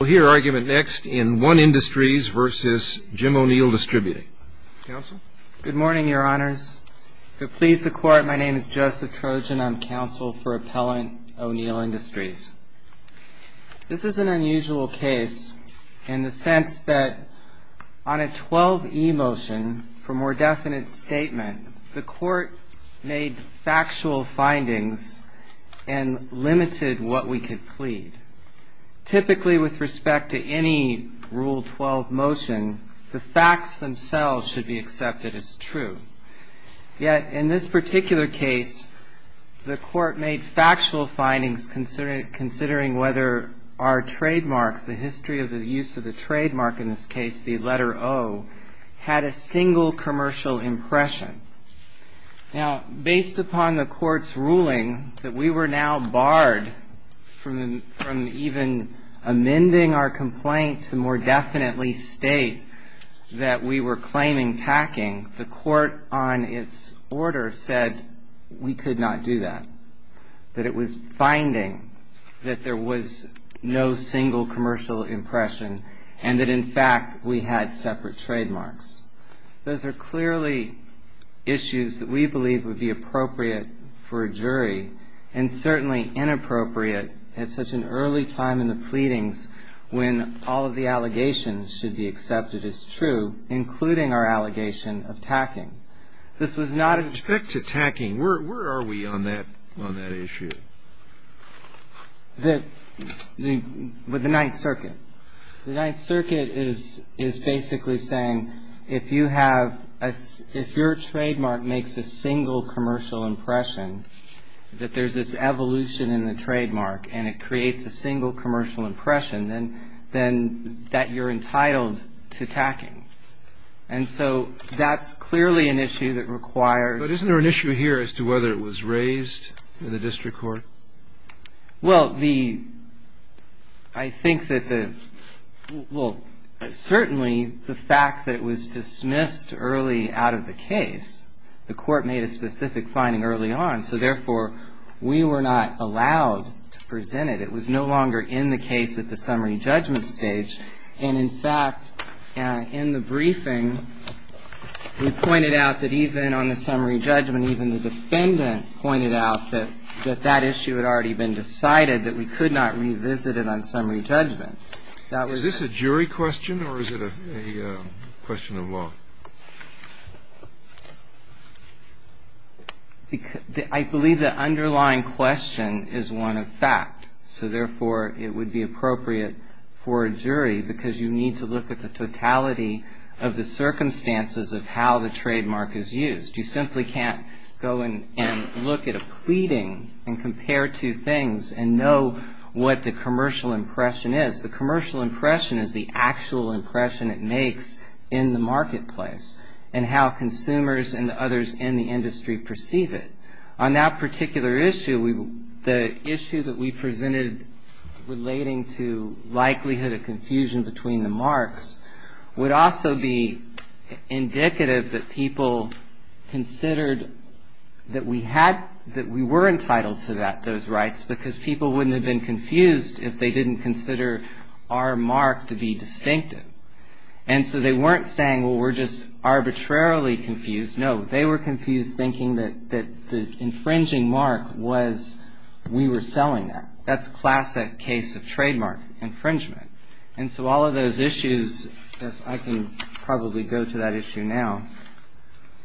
Good morning, Your Honors. To please the Court, my name is Joseph Trojan. I'm counsel for Appellant O'Neal Industries. This is an unusual case in the sense that on a 12e motion for more definite statement, the Court made factual findings and limited what we could plead. Typically, with respect to any Rule 12 motion, the facts themselves should be accepted as true. Yet, in this particular case, the Court made factual findings considering whether our trademarks, the history of the use of the trademark, in this case the letter O, had a single commercial impression. Now, based upon the Court's ruling that we were now barred from even amending our complaint to more definitely state that we were claiming tacking, the Court, on its order, said we could not do that, that it was finding that there was no single commercial impression and that, in fact, we had separate trademarks. Those are clearly issues that we believe would be appropriate for a jury and certainly inappropriate at such an early time in the pleadings when all of the allegations should be accepted as true, including our allegation of tacking. With respect to tacking, where are we on that issue? With the Ninth Circuit. The Ninth Circuit is basically saying if you have a – if your trademark makes a single commercial impression, that there's this evolution in the trademark and it creates a single commercial impression, then that you're entitled to tacking. And so that's clearly an issue that requires – But isn't there an issue here as to whether it was raised in the district court? Well, the – I think that the – well, certainly the fact that it was dismissed early out of the case, the Court made a specific finding early on. So, therefore, we were not allowed to present it. It was no longer in the case at the summary judgment stage. And, in fact, in the briefing, we pointed out that even on the summary judgment, even the defendant pointed out that that issue had already been decided, that we could not revisit it on summary judgment. Is this a jury question or is it a question of law? I believe the underlying question is one of fact. So, therefore, it would be appropriate for a jury because you need to look at the totality of the circumstances of how the trademark is used. You simply can't go and look at a pleading and compare two things and know what the commercial impression is. The commercial impression is the actual impression it makes in the marketplace and how consumers and the others in the industry perceive it. On that particular issue, the issue that we presented relating to likelihood of confusion between the marks would also be indicative that people considered that we were entitled to those rights because people wouldn't have been confused if they didn't consider our mark to be distinctive. And so they weren't saying, well, we're just arbitrarily confused. No, they were confused thinking that the infringing mark was we were selling that. That's a classic case of trademark infringement. And so all of those issues, if I can probably go to that issue now.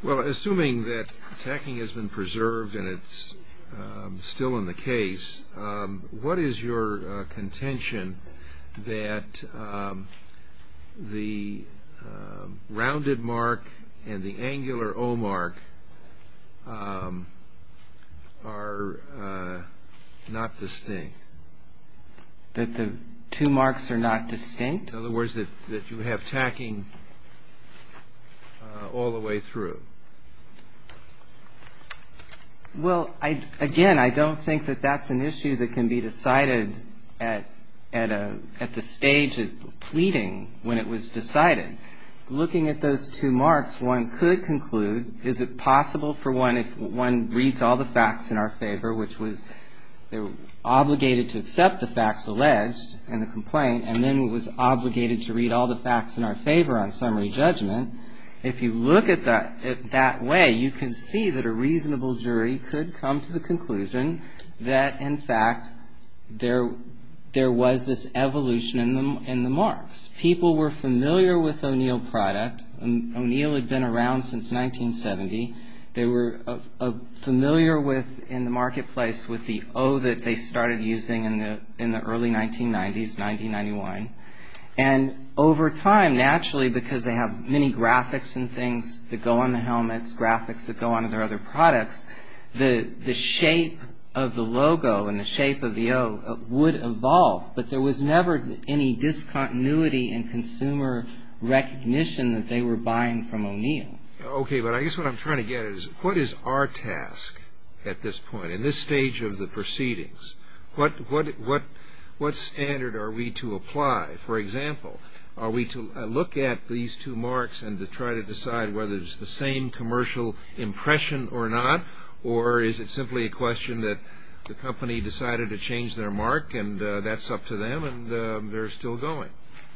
Well, assuming that tacking has been preserved and it's still in the case, what is your contention that the rounded mark and the angular O mark are not distinct? That the two marks are not distinct? In other words, that you have tacking all the way through. Well, again, I don't think that that's an issue that can be decided at the stage of pleading when it was decided. Looking at those two marks, one could conclude, is it possible for one if one reads all the facts in our favor, which was they were obligated to accept the facts alleged in the complaint and then was obligated to read all the facts in our favor on summary judgment. If you look at that way, you can see that a reasonable jury could come to the conclusion that, in fact, there was this evolution in the marks. People were familiar with O'Neill product. O'Neill had been around since 1970. They were familiar in the marketplace with the O that they started using in the early 1990s, 1991. And over time, naturally, because they have many graphics and things that go on the helmets, graphics that go onto their other products, the shape of the logo and the shape of the O would evolve. But there was never any discontinuity in consumer recognition that they were buying from O'Neill. Okay, but I guess what I'm trying to get at is what is our task at this point, in this stage of the proceedings? What standard are we to apply? For example, are we to look at these two marks and to try to decide whether it's the same commercial impression or not, or is it simply a question that the company decided to change their mark and that's up to them and they're still going?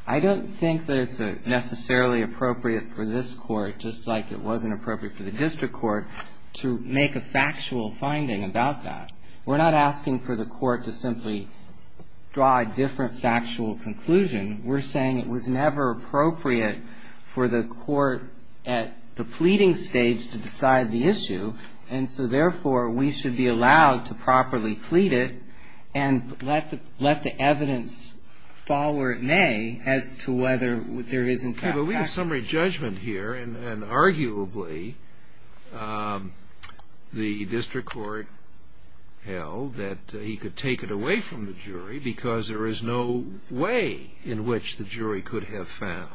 I don't think that it's necessarily appropriate for this Court, just like it wasn't appropriate for the district court, to make a factual finding about that. We're not asking for the court to simply draw a different factual conclusion. We're saying it was never appropriate for the court at the pleading stage to decide the issue, and so therefore we should be allowed to properly plead it and let the evidence fall where it may as to whether there is in fact factual evidence. Okay, but we have summary judgment here, and arguably the district court held that he could take it away from the jury because there is no way in which the jury could have found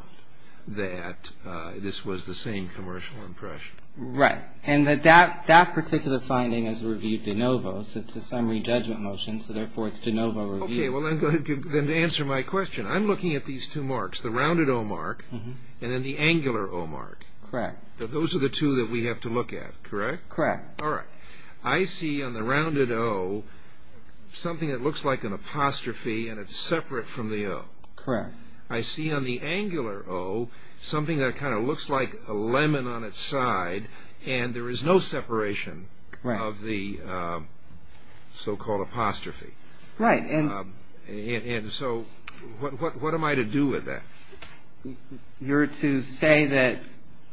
that this was the same commercial impression. Right, and that particular finding is reviewed de novo, so it's a summary judgment motion, so therefore it's de novo review. Okay, well then answer my question. I'm looking at these two marks, the rounded O mark and then the angular O mark. Correct. Those are the two that we have to look at, correct? Correct. All right. I see on the rounded O something that looks like an apostrophe and it's separate from the O. Correct. I see on the angular O something that kind of looks like a lemon on its side and there is no separation of the so-called apostrophe. Right. And so what am I to do with that? You're to say that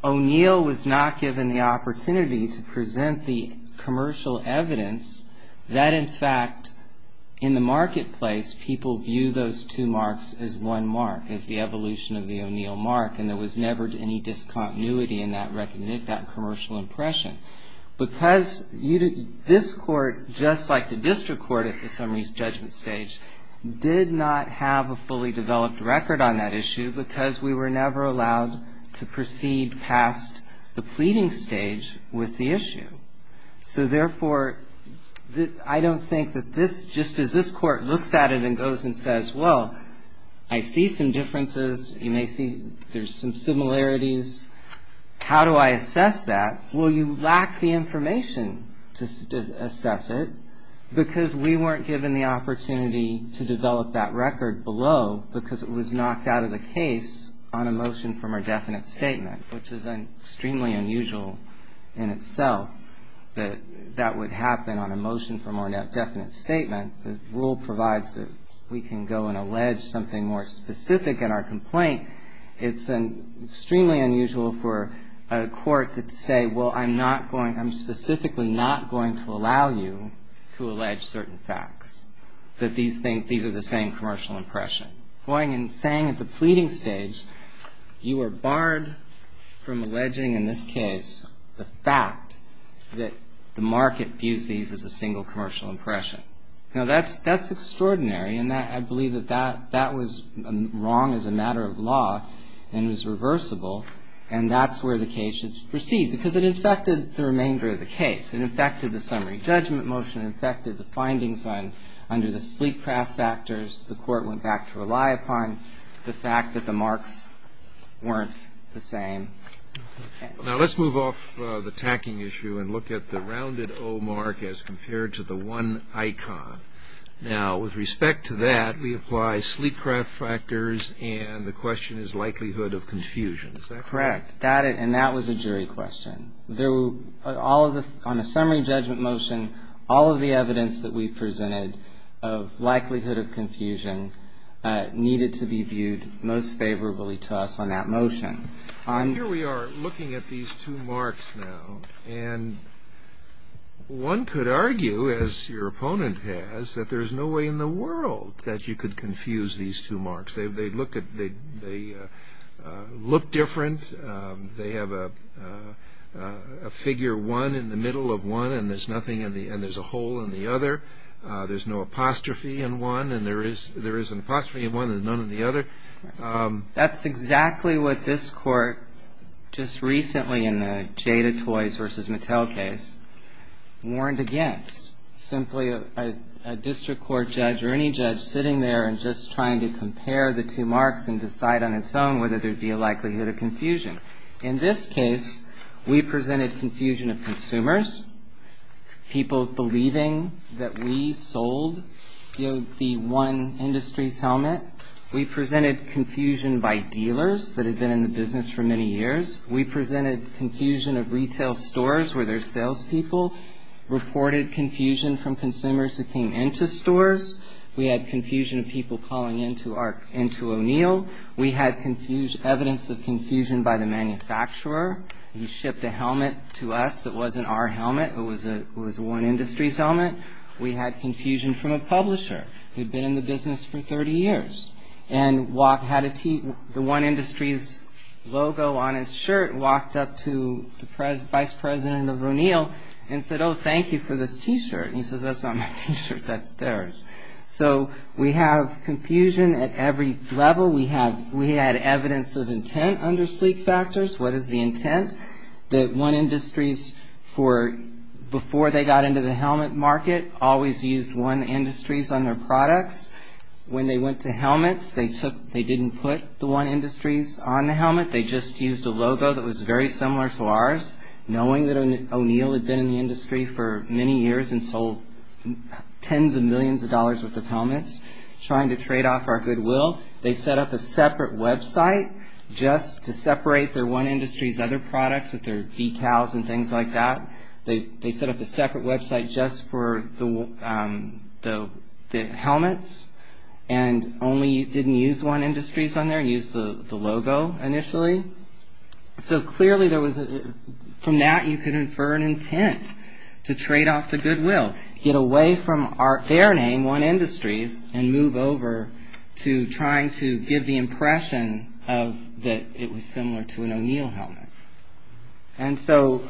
O'Neill was not given the opportunity to present the commercial evidence that in fact in the marketplace people view those two marks as one mark, as the evolution of the O'Neill mark, and there was never any discontinuity in that commercial impression. Because this Court, just like the district court at the summary judgment stage, did not have a fully developed record on that issue because we were never allowed to proceed past the pleading stage with the issue. So therefore, I don't think that this, just as this Court looks at it and goes and says, well, I see some differences. You may see there's some similarities. How do I assess that? Well, you lack the information to assess it because we weren't given the opportunity to develop that record below because it was knocked out of the case on a motion from our definite statement, which is extremely unusual in itself that that would happen on a motion from our definite statement. The rule provides that we can go and allege something more specific in our complaint. It's extremely unusual for a court to say, well, I'm specifically not going to allow you to allege certain facts, that these are the same commercial impression. Going and saying at the pleading stage, you are barred from alleging, in this case, the fact that the market views these as a single commercial impression. Now, that's extraordinary, and I believe that that was wrong as a matter of law and was reversible, and that's where the case should proceed because it infected the remainder of the case. It infected the summary judgment motion, infected the findings under the sleep craft factors the Court went back to rely upon, the fact that the marks weren't the same. Now, let's move off the tacking issue and look at the rounded O mark as compared to the one icon. Now, with respect to that, we apply sleep craft factors, and the question is likelihood of confusion. Is that correct? Got it, and that was a jury question. On the summary judgment motion, all of the evidence that we presented of likelihood of confusion needed to be viewed most favorably to us on that motion. Here we are looking at these two marks now, and one could argue, as your opponent has, that there's no way in the world that you could confuse these two marks. They look different. They have a figure one in the middle of one, and there's a hole in the other. There's no apostrophe in one, and there is an apostrophe in one and none in the other. That's exactly what this Court just recently in the Jada Toys v. Mattel case warned against. Simply a district court judge or any judge sitting there and just trying to compare the two marks and decide on its own whether there would be a likelihood of confusion. In this case, we presented confusion of consumers. People believing that we sold the one industry's helmet. We presented confusion by dealers that had been in the business for many years. We presented confusion of retail stores where their salespeople reported confusion from consumers who came into stores. We had confusion of people calling into O'Neill. We had evidence of confusion by the manufacturer. He shipped a helmet to us that wasn't our helmet. It was one industry's helmet. We had confusion from a publisher who'd been in the business for 30 years and had the one industry's logo on his shirt, walked up to the vice president of O'Neill and said, oh, thank you for this T-shirt. He says, that's not my T-shirt. That's theirs. So we have confusion at every level. We had evidence of intent under sleep factors. What is the intent? That one industries, before they got into the helmet market, always used one industries on their products. When they went to helmets, they didn't put the one industries on the helmet. They just used a logo that was very similar to ours, knowing that O'Neill had been in the industry for many years and sold tens of millions of dollars worth of helmets, trying to trade off our goodwill. They set up a separate website just to separate their one industries' other products with their decals and things like that. They set up a separate website just for the helmets and only didn't use one industries on there, used the logo initially. So clearly, from that you could infer an intent to trade off the goodwill, get away from their name, one industries, and move over to trying to give the impression that it was similar to an O'Neill helmet. And so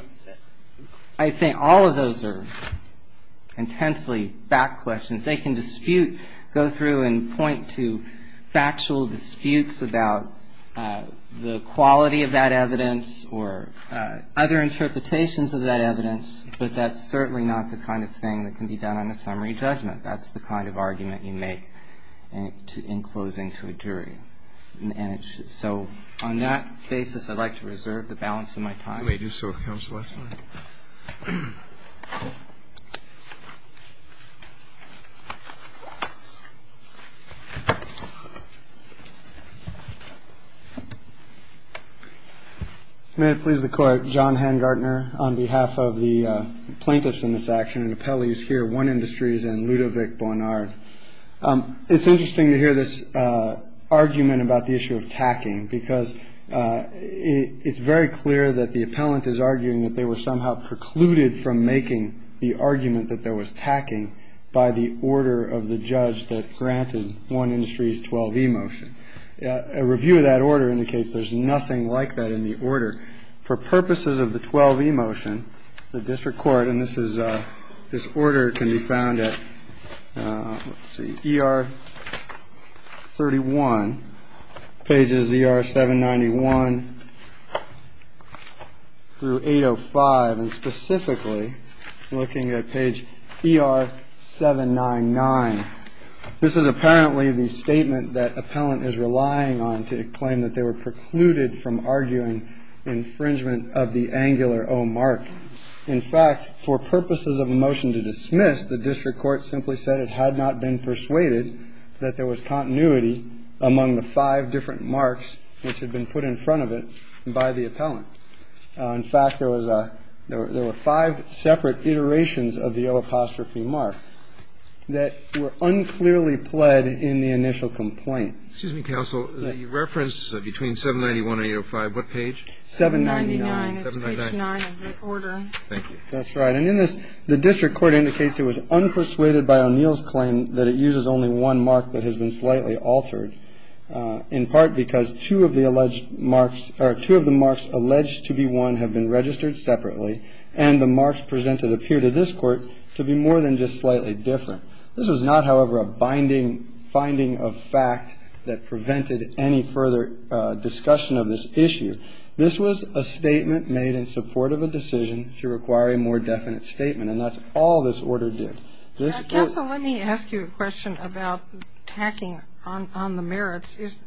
I think all of those are intensely back questions. They can dispute, go through and point to factual disputes about the quality of that evidence or other interpretations of that evidence, but that's certainly not the kind of thing that can be done on a summary judgment. That's the kind of argument you make in closing to a jury. And so on that basis, I'd like to reserve the balance of my time. You may do so, counsel. That's fine. May it please the Court, John Hengartner, on behalf of the plaintiffs in this action and appellees here, One Industries and Ludovic Bonnard. It's interesting to hear this argument about the issue of tacking, because it's very clear that the appellant is arguing that they were somehow precluded from making the argument that there was tacking by the order of the judge that granted One Industries 12E motion. A review of that order indicates there's nothing like that in the order. For purposes of the 12E motion, the district court, and this order can be found at, let's see, ER 31, pages ER 791 through 805, and specifically looking at page ER 799. This is apparently the statement that appellant is relying on to claim that they were precluded from arguing infringement of the angular O mark. In fact, for purposes of a motion to dismiss, the district court simply said it had not been persuaded that there was continuity among the five different marks which had been put in front of it by the appellant. In fact, there was a – there were five separate iterations of the O apostrophe mark that were unclearly pled in the initial complaint. Excuse me, counsel. The reference between 791 and 805, what page? 799. It's page 9 of that order. Thank you. That's right. And in this, the district court indicates it was unpersuaded by O'Neill's claim that it uses only one mark that has been slightly altered, in part because two of the alleged marks – or two of the marks alleged to be one have been registered separately, and the marks presented appear to this court to be more than just slightly different. This was not, however, a binding finding of fact that prevented any further discussion of this issue. This was a statement made in support of a decision to require a more definite statement, and that's all this order did. Counsel, let me ask you a question about tacking on the merits. Is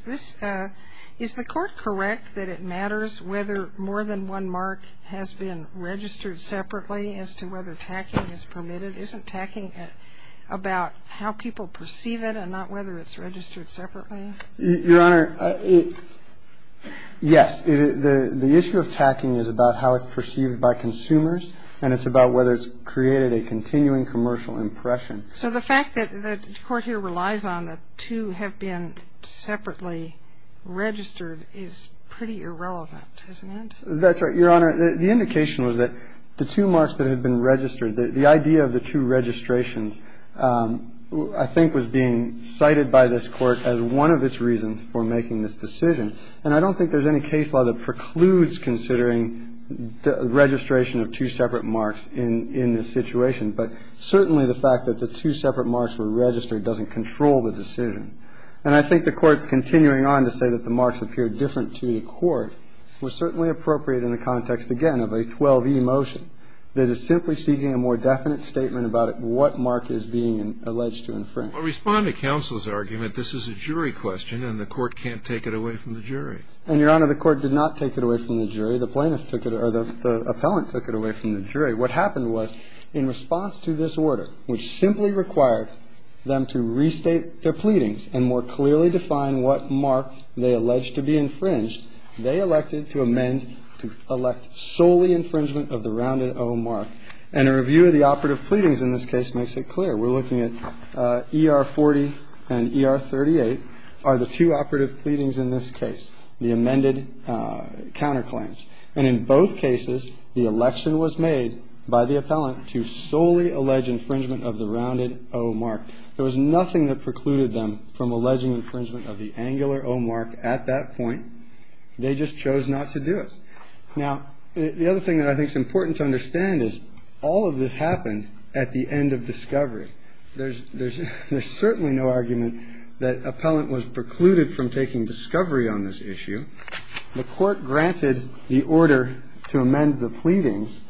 this – is the court correct that it matters whether more than one mark has been registered separately as to whether tacking is permitted? Isn't tacking about how people perceive it and not whether it's registered separately? Your Honor, yes. The issue of tacking is about how it's perceived by consumers, and it's about whether it's created a continuing commercial impression. So the fact that the court here relies on the two have been separately registered is pretty irrelevant, isn't it? That's right, Your Honor. The indication was that the two marks that had been registered, the idea of the two registrations I think was being cited by this Court as one of its reasons for making this decision. And I don't think there's any case law that precludes considering registration of two separate marks in this situation. But certainly the fact that the two separate marks were registered doesn't control the decision. And I think the Court's continuing on to say that the marks appear different to the Court was certainly appropriate in the context, again, of a 12e motion that is simply seeking a more definite statement about what mark is being alleged to infringe. Well, respond to counsel's argument. This is a jury question, and the Court can't take it away from the jury. And, Your Honor, the Court did not take it away from the jury. The plaintiff took it or the appellant took it away from the jury. What happened was in response to this order, which simply required them to restate their pleadings and more clearly define what mark they alleged to be infringed, they elected to amend to elect solely infringement of the rounded O mark. And a review of the operative pleadings in this case makes it clear. We're looking at ER 40 and ER 38 are the two operative pleadings in this case, the amended counterclaims. And in both cases, the election was made by the appellant to solely allege infringement of the rounded O mark. There was nothing that precluded them from alleging infringement of the angular O mark at that point. They just chose not to do it. Now, the other thing that I think is important to understand is all of this happened at the end of discovery. There's certainly no argument that appellant was precluded from taking discovery on this issue. The Court granted the order to amend the pleadings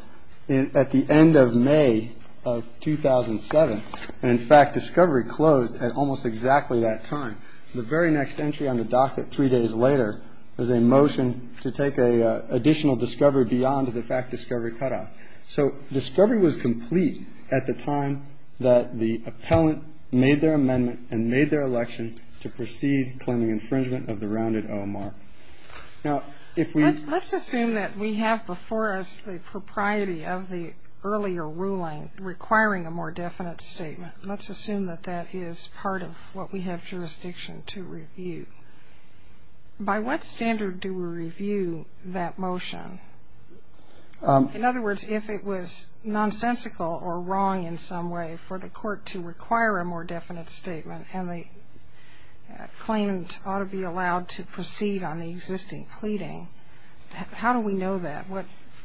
at the end of May of 2007. And, in fact, discovery closed at almost exactly that time. The very next entry on the docket three days later was a motion to take additional discovery beyond the fact discovery cutoff. So discovery was complete at the time that the appellant made their amendment and made their election to proceed claiming infringement of the rounded O mark. Now, if we ---- Let's assume that we have before us the propriety of the earlier ruling requiring a more definite statement. Let's assume that that is part of what we have jurisdiction to review. By what standard do we review that motion? In other words, if it was nonsensical or wrong in some way for the Court to require a more definite statement and the claimant ought to be allowed to proceed on the existing pleading, how do we know that?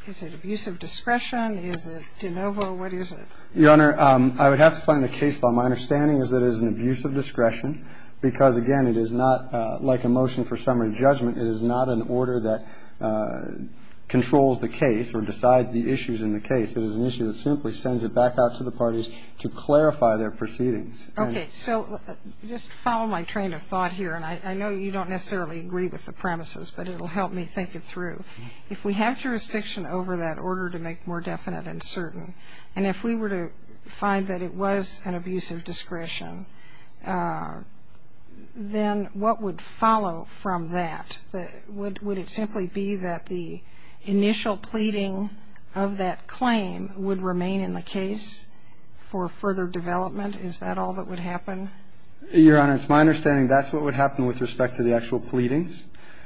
Is it abuse of discretion? Is it de novo? What is it? Your Honor, I would have to find the case law. My understanding is that it is an abuse of discretion because, again, it is not like a motion for summary judgment. It is not an order that controls the case or decides the issues in the case. It is an issue that simply sends it back out to the parties to clarify their proceedings. Okay. So just follow my train of thought here. And I know you don't necessarily agree with the premises, but it will help me think it through. If we have jurisdiction over that order to make more definite and certain, and if we were to find that it was an abuse of discretion, then what would follow from that? Would it simply be that the initial pleading of that claim would remain in the case for further development? Is that all that would happen? Your Honor, it's my understanding that's what would happen with respect to the actual pleadings.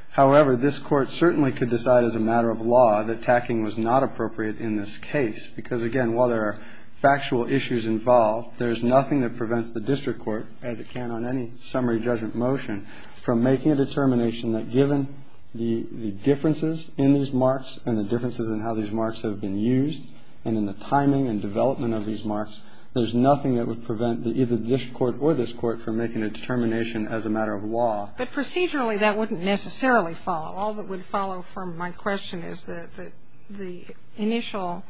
However, this Court certainly could decide as a matter of law that tacking was not appropriate in this case. Because, again, while there are factual issues involved, there's nothing that prevents the district court, as it can on any summary judgment motion, from making a determination that given the differences in these marks and the differences in how these marks have been used, and in the timing and development of these marks, there's nothing that would prevent either the district court or this Court from making a determination as a matter of law. But procedurally, that wouldn't necessarily follow. All that would follow from my question is that the initial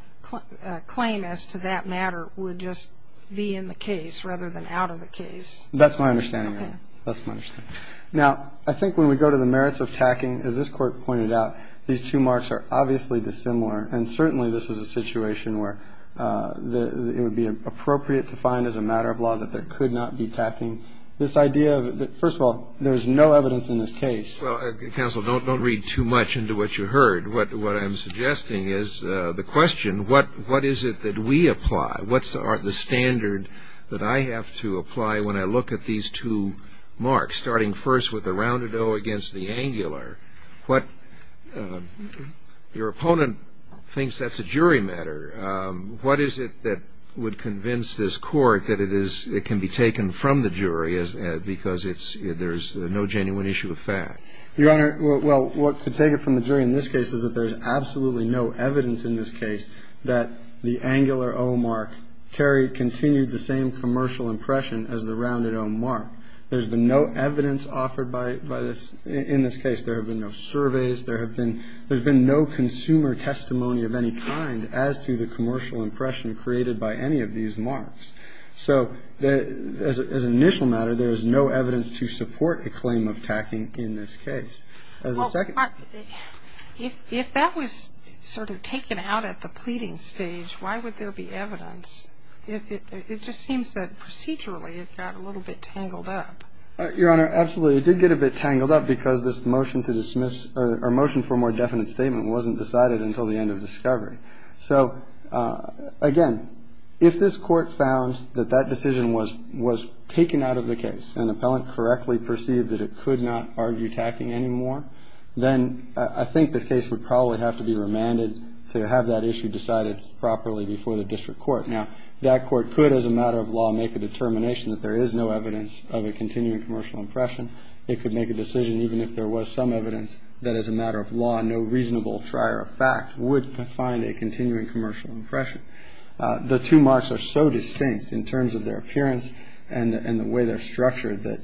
claim as to that matter would just be in the case rather than out of the case. That's my understanding, Your Honor. That's my understanding. Now, I think when we go to the merits of tacking, as this Court pointed out, these two marks are obviously dissimilar. And certainly this is a situation where it would be appropriate to find as a matter of law that there could not be tacking. This idea that, first of all, there's no evidence in this case. Well, Counsel, don't read too much into what you heard. What I'm suggesting is the question, what is it that we apply? What's the standard that I have to apply when I look at these two marks, starting first with the rounded O against the angular? Your opponent thinks that's a jury matter. What is it that would convince this Court that it can be taken from the jury because there's no genuine issue of fact? Your Honor, well, what could take it from the jury in this case is that there's absolutely no evidence in this case that the angular O mark carried, continued the same commercial impression as the rounded O mark. There's been no evidence offered by this – in this case. There have been no surveys. There have been – there's been no consumer testimony of any kind as to the commercial impression created by any of these marks. So as an initial matter, there is no evidence to support a claim of tacking in this case. As a second – Well, if that was sort of taken out at the pleading stage, why would there be evidence? It just seems that procedurally it got a little bit tangled up. Your Honor, absolutely. It did get a bit tangled up because this motion to dismiss – or motion for a more definite statement wasn't decided until the end of discovery. So, again, if this court found that that decision was – was taken out of the case and the appellant correctly perceived that it could not argue tacking anymore, then I think this case would probably have to be remanded to have that issue decided properly before the district court. Now, that court could, as a matter of law, make a determination that there is no evidence of a continuing commercial impression. It could make a decision, even if there was some evidence, that as a matter of law, there is no evidence that there is a continuing commercial impression. The two marks are so distinct in terms of their appearance and the way they're structured that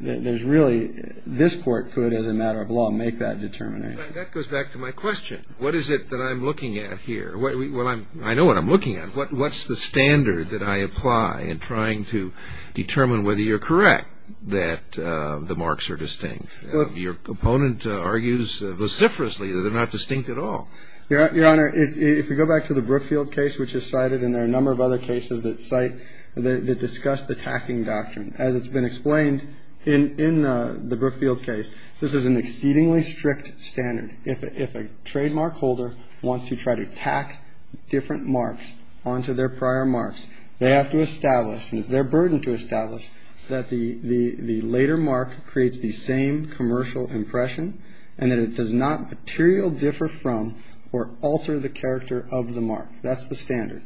there's really – this court could, as a matter of law, make that determination. That goes back to my question. What is it that I'm looking at here? Well, I know what I'm looking at. What's the standard that I apply in trying to determine whether you're correct that the marks are distinct? Your opponent argues vociferously that they're not distinct at all. Your Honor, if we go back to the Brookfield case, which is cited, and there are a number of other cases that cite – that discuss the tacking doctrine, as it's been explained in the Brookfield case, this is an exceedingly strict standard. If a trademark holder wants to try to tack different marks onto their prior marks, they have to establish, and it's their burden to establish, that the later mark creates the same commercial impression and that it does not materially differ from or alter the character of the mark. That's the standard.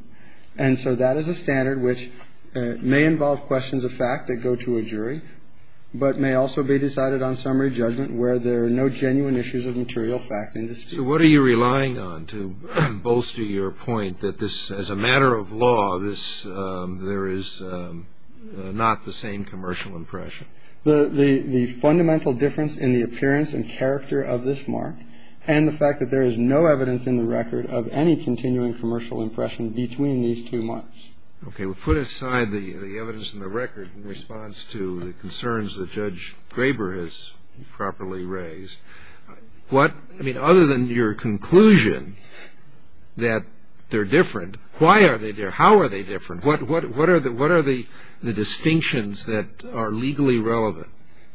And so that is a standard which may involve questions of fact that go to a jury, but may also be decided on summary judgment where there are no genuine issues of material fact in dispute. So what are you relying on to bolster your point that this – as a matter of law, this – there is not the same commercial impression? The fundamental difference in the appearance and character of this mark and the fact that there is no evidence in the record of any continuing commercial impression between these two marks. Okay. We'll put aside the evidence in the record in response to the concerns that Judge Graber has properly raised. What – I mean, other than your conclusion that they're different, why are they different? How are they different? What are the distinctions that are legally relevant?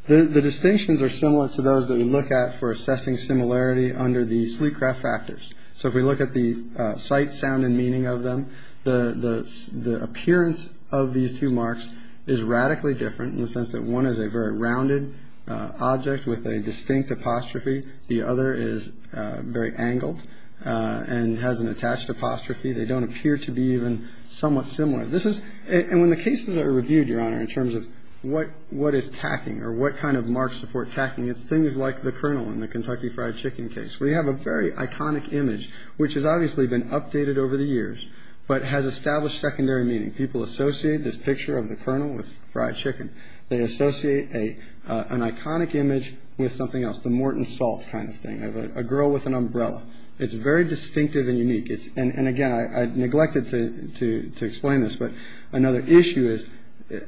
The distinctions are similar to those that we look at for assessing similarity under the sleek craft factors. So if we look at the sight, sound, and meaning of them, the appearance of these two marks is radically different in the sense that one is a very rounded object with a distinct apostrophe. The other is very angled and has an attached apostrophe. They don't appear to be even somewhat similar. This is – and when the cases are reviewed, Your Honor, in terms of what is tacking or what kind of marks support tacking, it's things like the kernel in the Kentucky fried chicken case. We have a very iconic image, which has obviously been updated over the years, but has established secondary meaning. People associate this picture of the kernel with fried chicken. They associate an iconic image with something else, the Morton Salt kind of thing, a girl with an umbrella. It's very distinctive and unique. And again, I neglected to explain this, but another issue is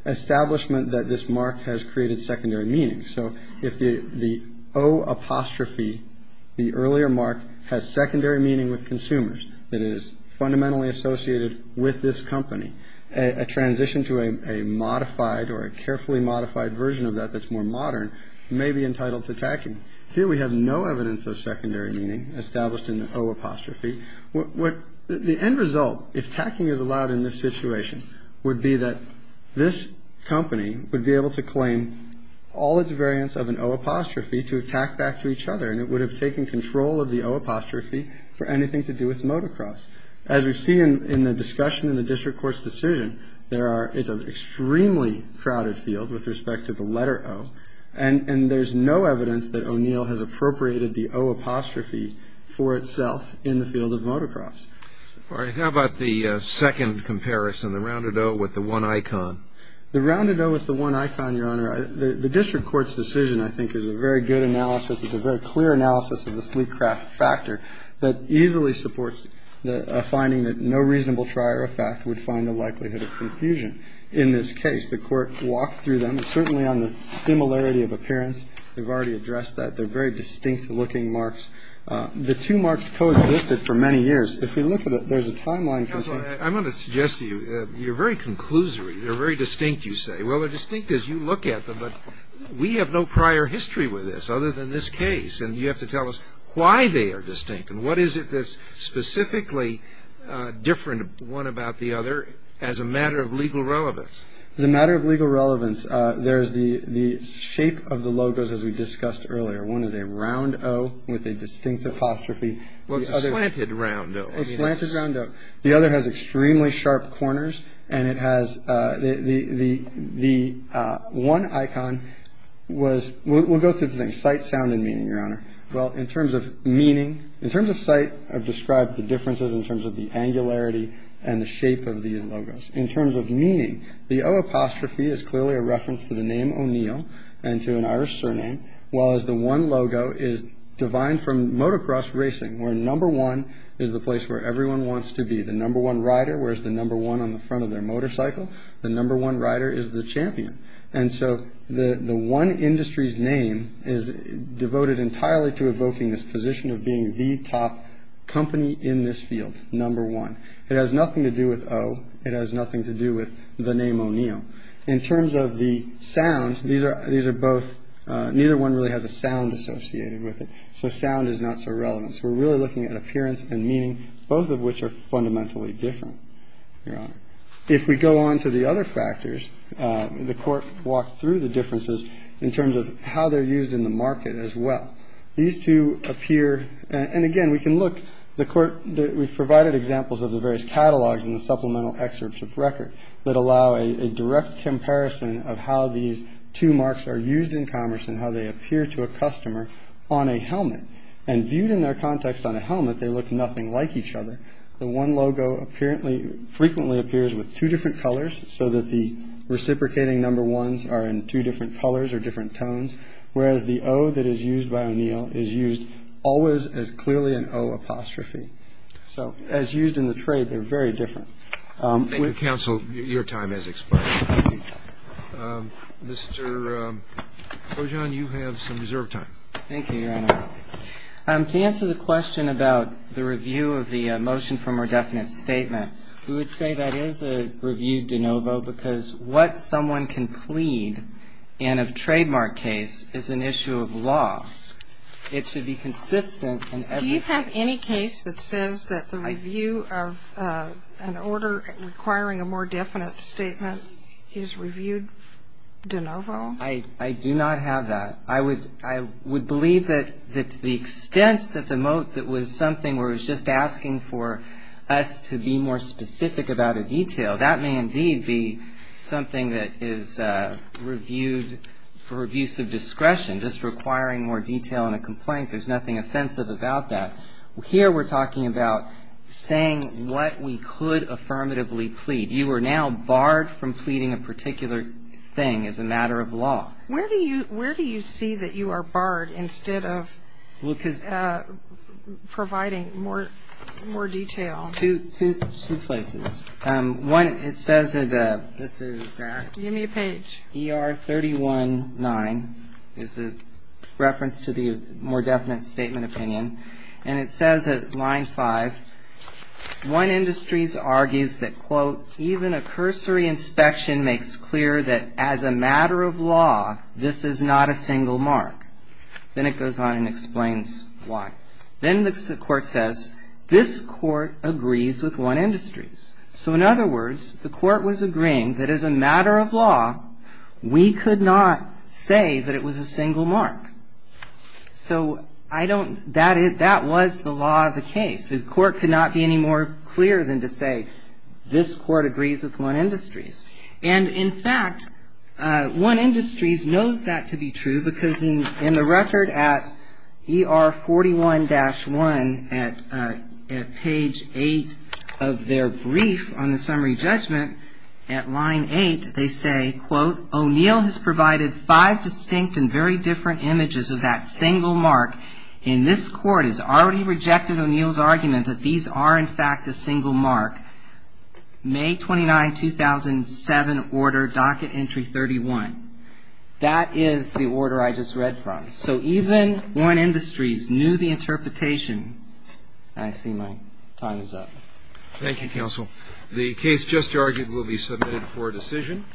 establishment that this mark has created secondary meaning. So if the O apostrophe, the earlier mark, has secondary meaning with consumers, that it is fundamentally associated with this company, a transition to a modified or a carefully modified version of that that's more modern may be entitled to tacking. Here we have no evidence of secondary meaning established in the O apostrophe. The end result, if tacking is allowed in this situation, would be that this company would be able to claim all its variants of an O apostrophe to attack back to each other, and it would have taken control of the O apostrophe for anything to do with Motocross. As we've seen in the discussion in the district court's decision, it's an extremely crowded field with respect to the letter O, and there's no evidence that O'Neill has appropriated the O apostrophe for itself in the field of Motocross. All right. How about the second comparison, the rounded O with the one icon? The rounded O with the one icon, Your Honor, the district court's decision, I think, is a very good analysis. It's a very clear analysis of the sleek craft factor that easily supports a finding that no reasonable trier of fact would find the likelihood of confusion in this case. The court walked through them. It's certainly on the similarity of appearance. They've already addressed that. They're very distinct-looking marks. The two marks coexisted for many years. If you look at it, there's a timeline. I'm going to suggest to you, you're very conclusory. They're very distinct, you say. Well, they're distinct as you look at them, but we have no prior history with this, other than this case, and you have to tell us why they are distinct and what is it that's specifically different one about the other as a matter of legal relevance. As a matter of legal relevance, there's the shape of the logos, as we discussed earlier. One is a round O with a distinct apostrophe. Well, it's a slanted round O. It's a slanted round O. The other has extremely sharp corners, and it has the one icon was we'll go through this thing, sight, sound, and meaning, Your Honor. Well, in terms of meaning, in terms of sight, I've described the differences in terms of the angularity and the shape of these logos. In terms of meaning, the O apostrophe is clearly a reference to the name O'Neill and to an Irish surname, while as the one logo is divine from motocross racing, where number one is the place where everyone wants to be. The number one rider wears the number one on the front of their motorcycle. The number one rider is the champion. And so the one industry's name is devoted entirely to evoking this position of being the top company in this field. Number one. It has nothing to do with O. It has nothing to do with the name O'Neill. In terms of the sound, these are both neither one really has a sound associated with it. So sound is not so relevant. So we're really looking at appearance and meaning, both of which are fundamentally different. Your Honor. If we go on to the other factors, the Court walked through the differences in terms of how they're used in the market as well. These two appear. And again, we can look. We've provided examples of the various catalogs and supplemental excerpts of record that allow a direct comparison of how these two marks are used in commerce and how they appear to a customer on a helmet and viewed in their context on a helmet. They look nothing like each other. The one logo apparently frequently appears with two different colors so that the reciprocating number ones are in two different colors or different tones. Whereas the O that is used by O'Neill is used always as clearly an O apostrophe. So as used in the trade, they're very different. Thank you, counsel. Your time has expired. Mr. Ojan, you have some reserved time. Thank you, Your Honor. To answer the question about the review of the motion for more definite statement, we would say that is a review de novo because what someone can plead in a trademark case is an issue of law. It should be consistent in every case. Do you have any case that says that the review of an order requiring a more definite statement is reviewed de novo? I do not have that. I would believe that to the extent that the moat that was something where it was just asking for us to be more specific about a detail, that may indeed be something that is reviewed for abuse of discretion, just requiring more detail in a complaint. There's nothing offensive about that. Here we're talking about saying what we could affirmatively plead. You are now barred from pleading a particular thing as a matter of law. Where do you see that you are barred instead of providing more detail? Two places. One, it says that this is ER 319 is a reference to the more definite statement opinion. And it says at line 5, 1 Industries argues that, quote, even a cursory inspection makes clear that as a matter of law, this is not a single mark. Then it goes on and explains why. Then the court says, this court agrees with 1 Industries. So in other words, the court was agreeing that as a matter of law, we could not say that it was a single mark. So I don't, that was the law of the case. The court could not be any more clear than to say this court agrees with 1 Industries. And in fact, 1 Industries knows that to be true because in the record at ER 41-1 at page 8 of their brief on the summary judgment, at line 8, they say, quote, O'Neill has provided five distinct and very different images of that single mark. And this court has already rejected O'Neill's argument that these are, in fact, a single mark. May 29, 2007 order, docket entry 31. That is the order I just read from. So even 1 Industries knew the interpretation. I see my time is up. Thank you, counsel. The case just charged will be submitted for decision.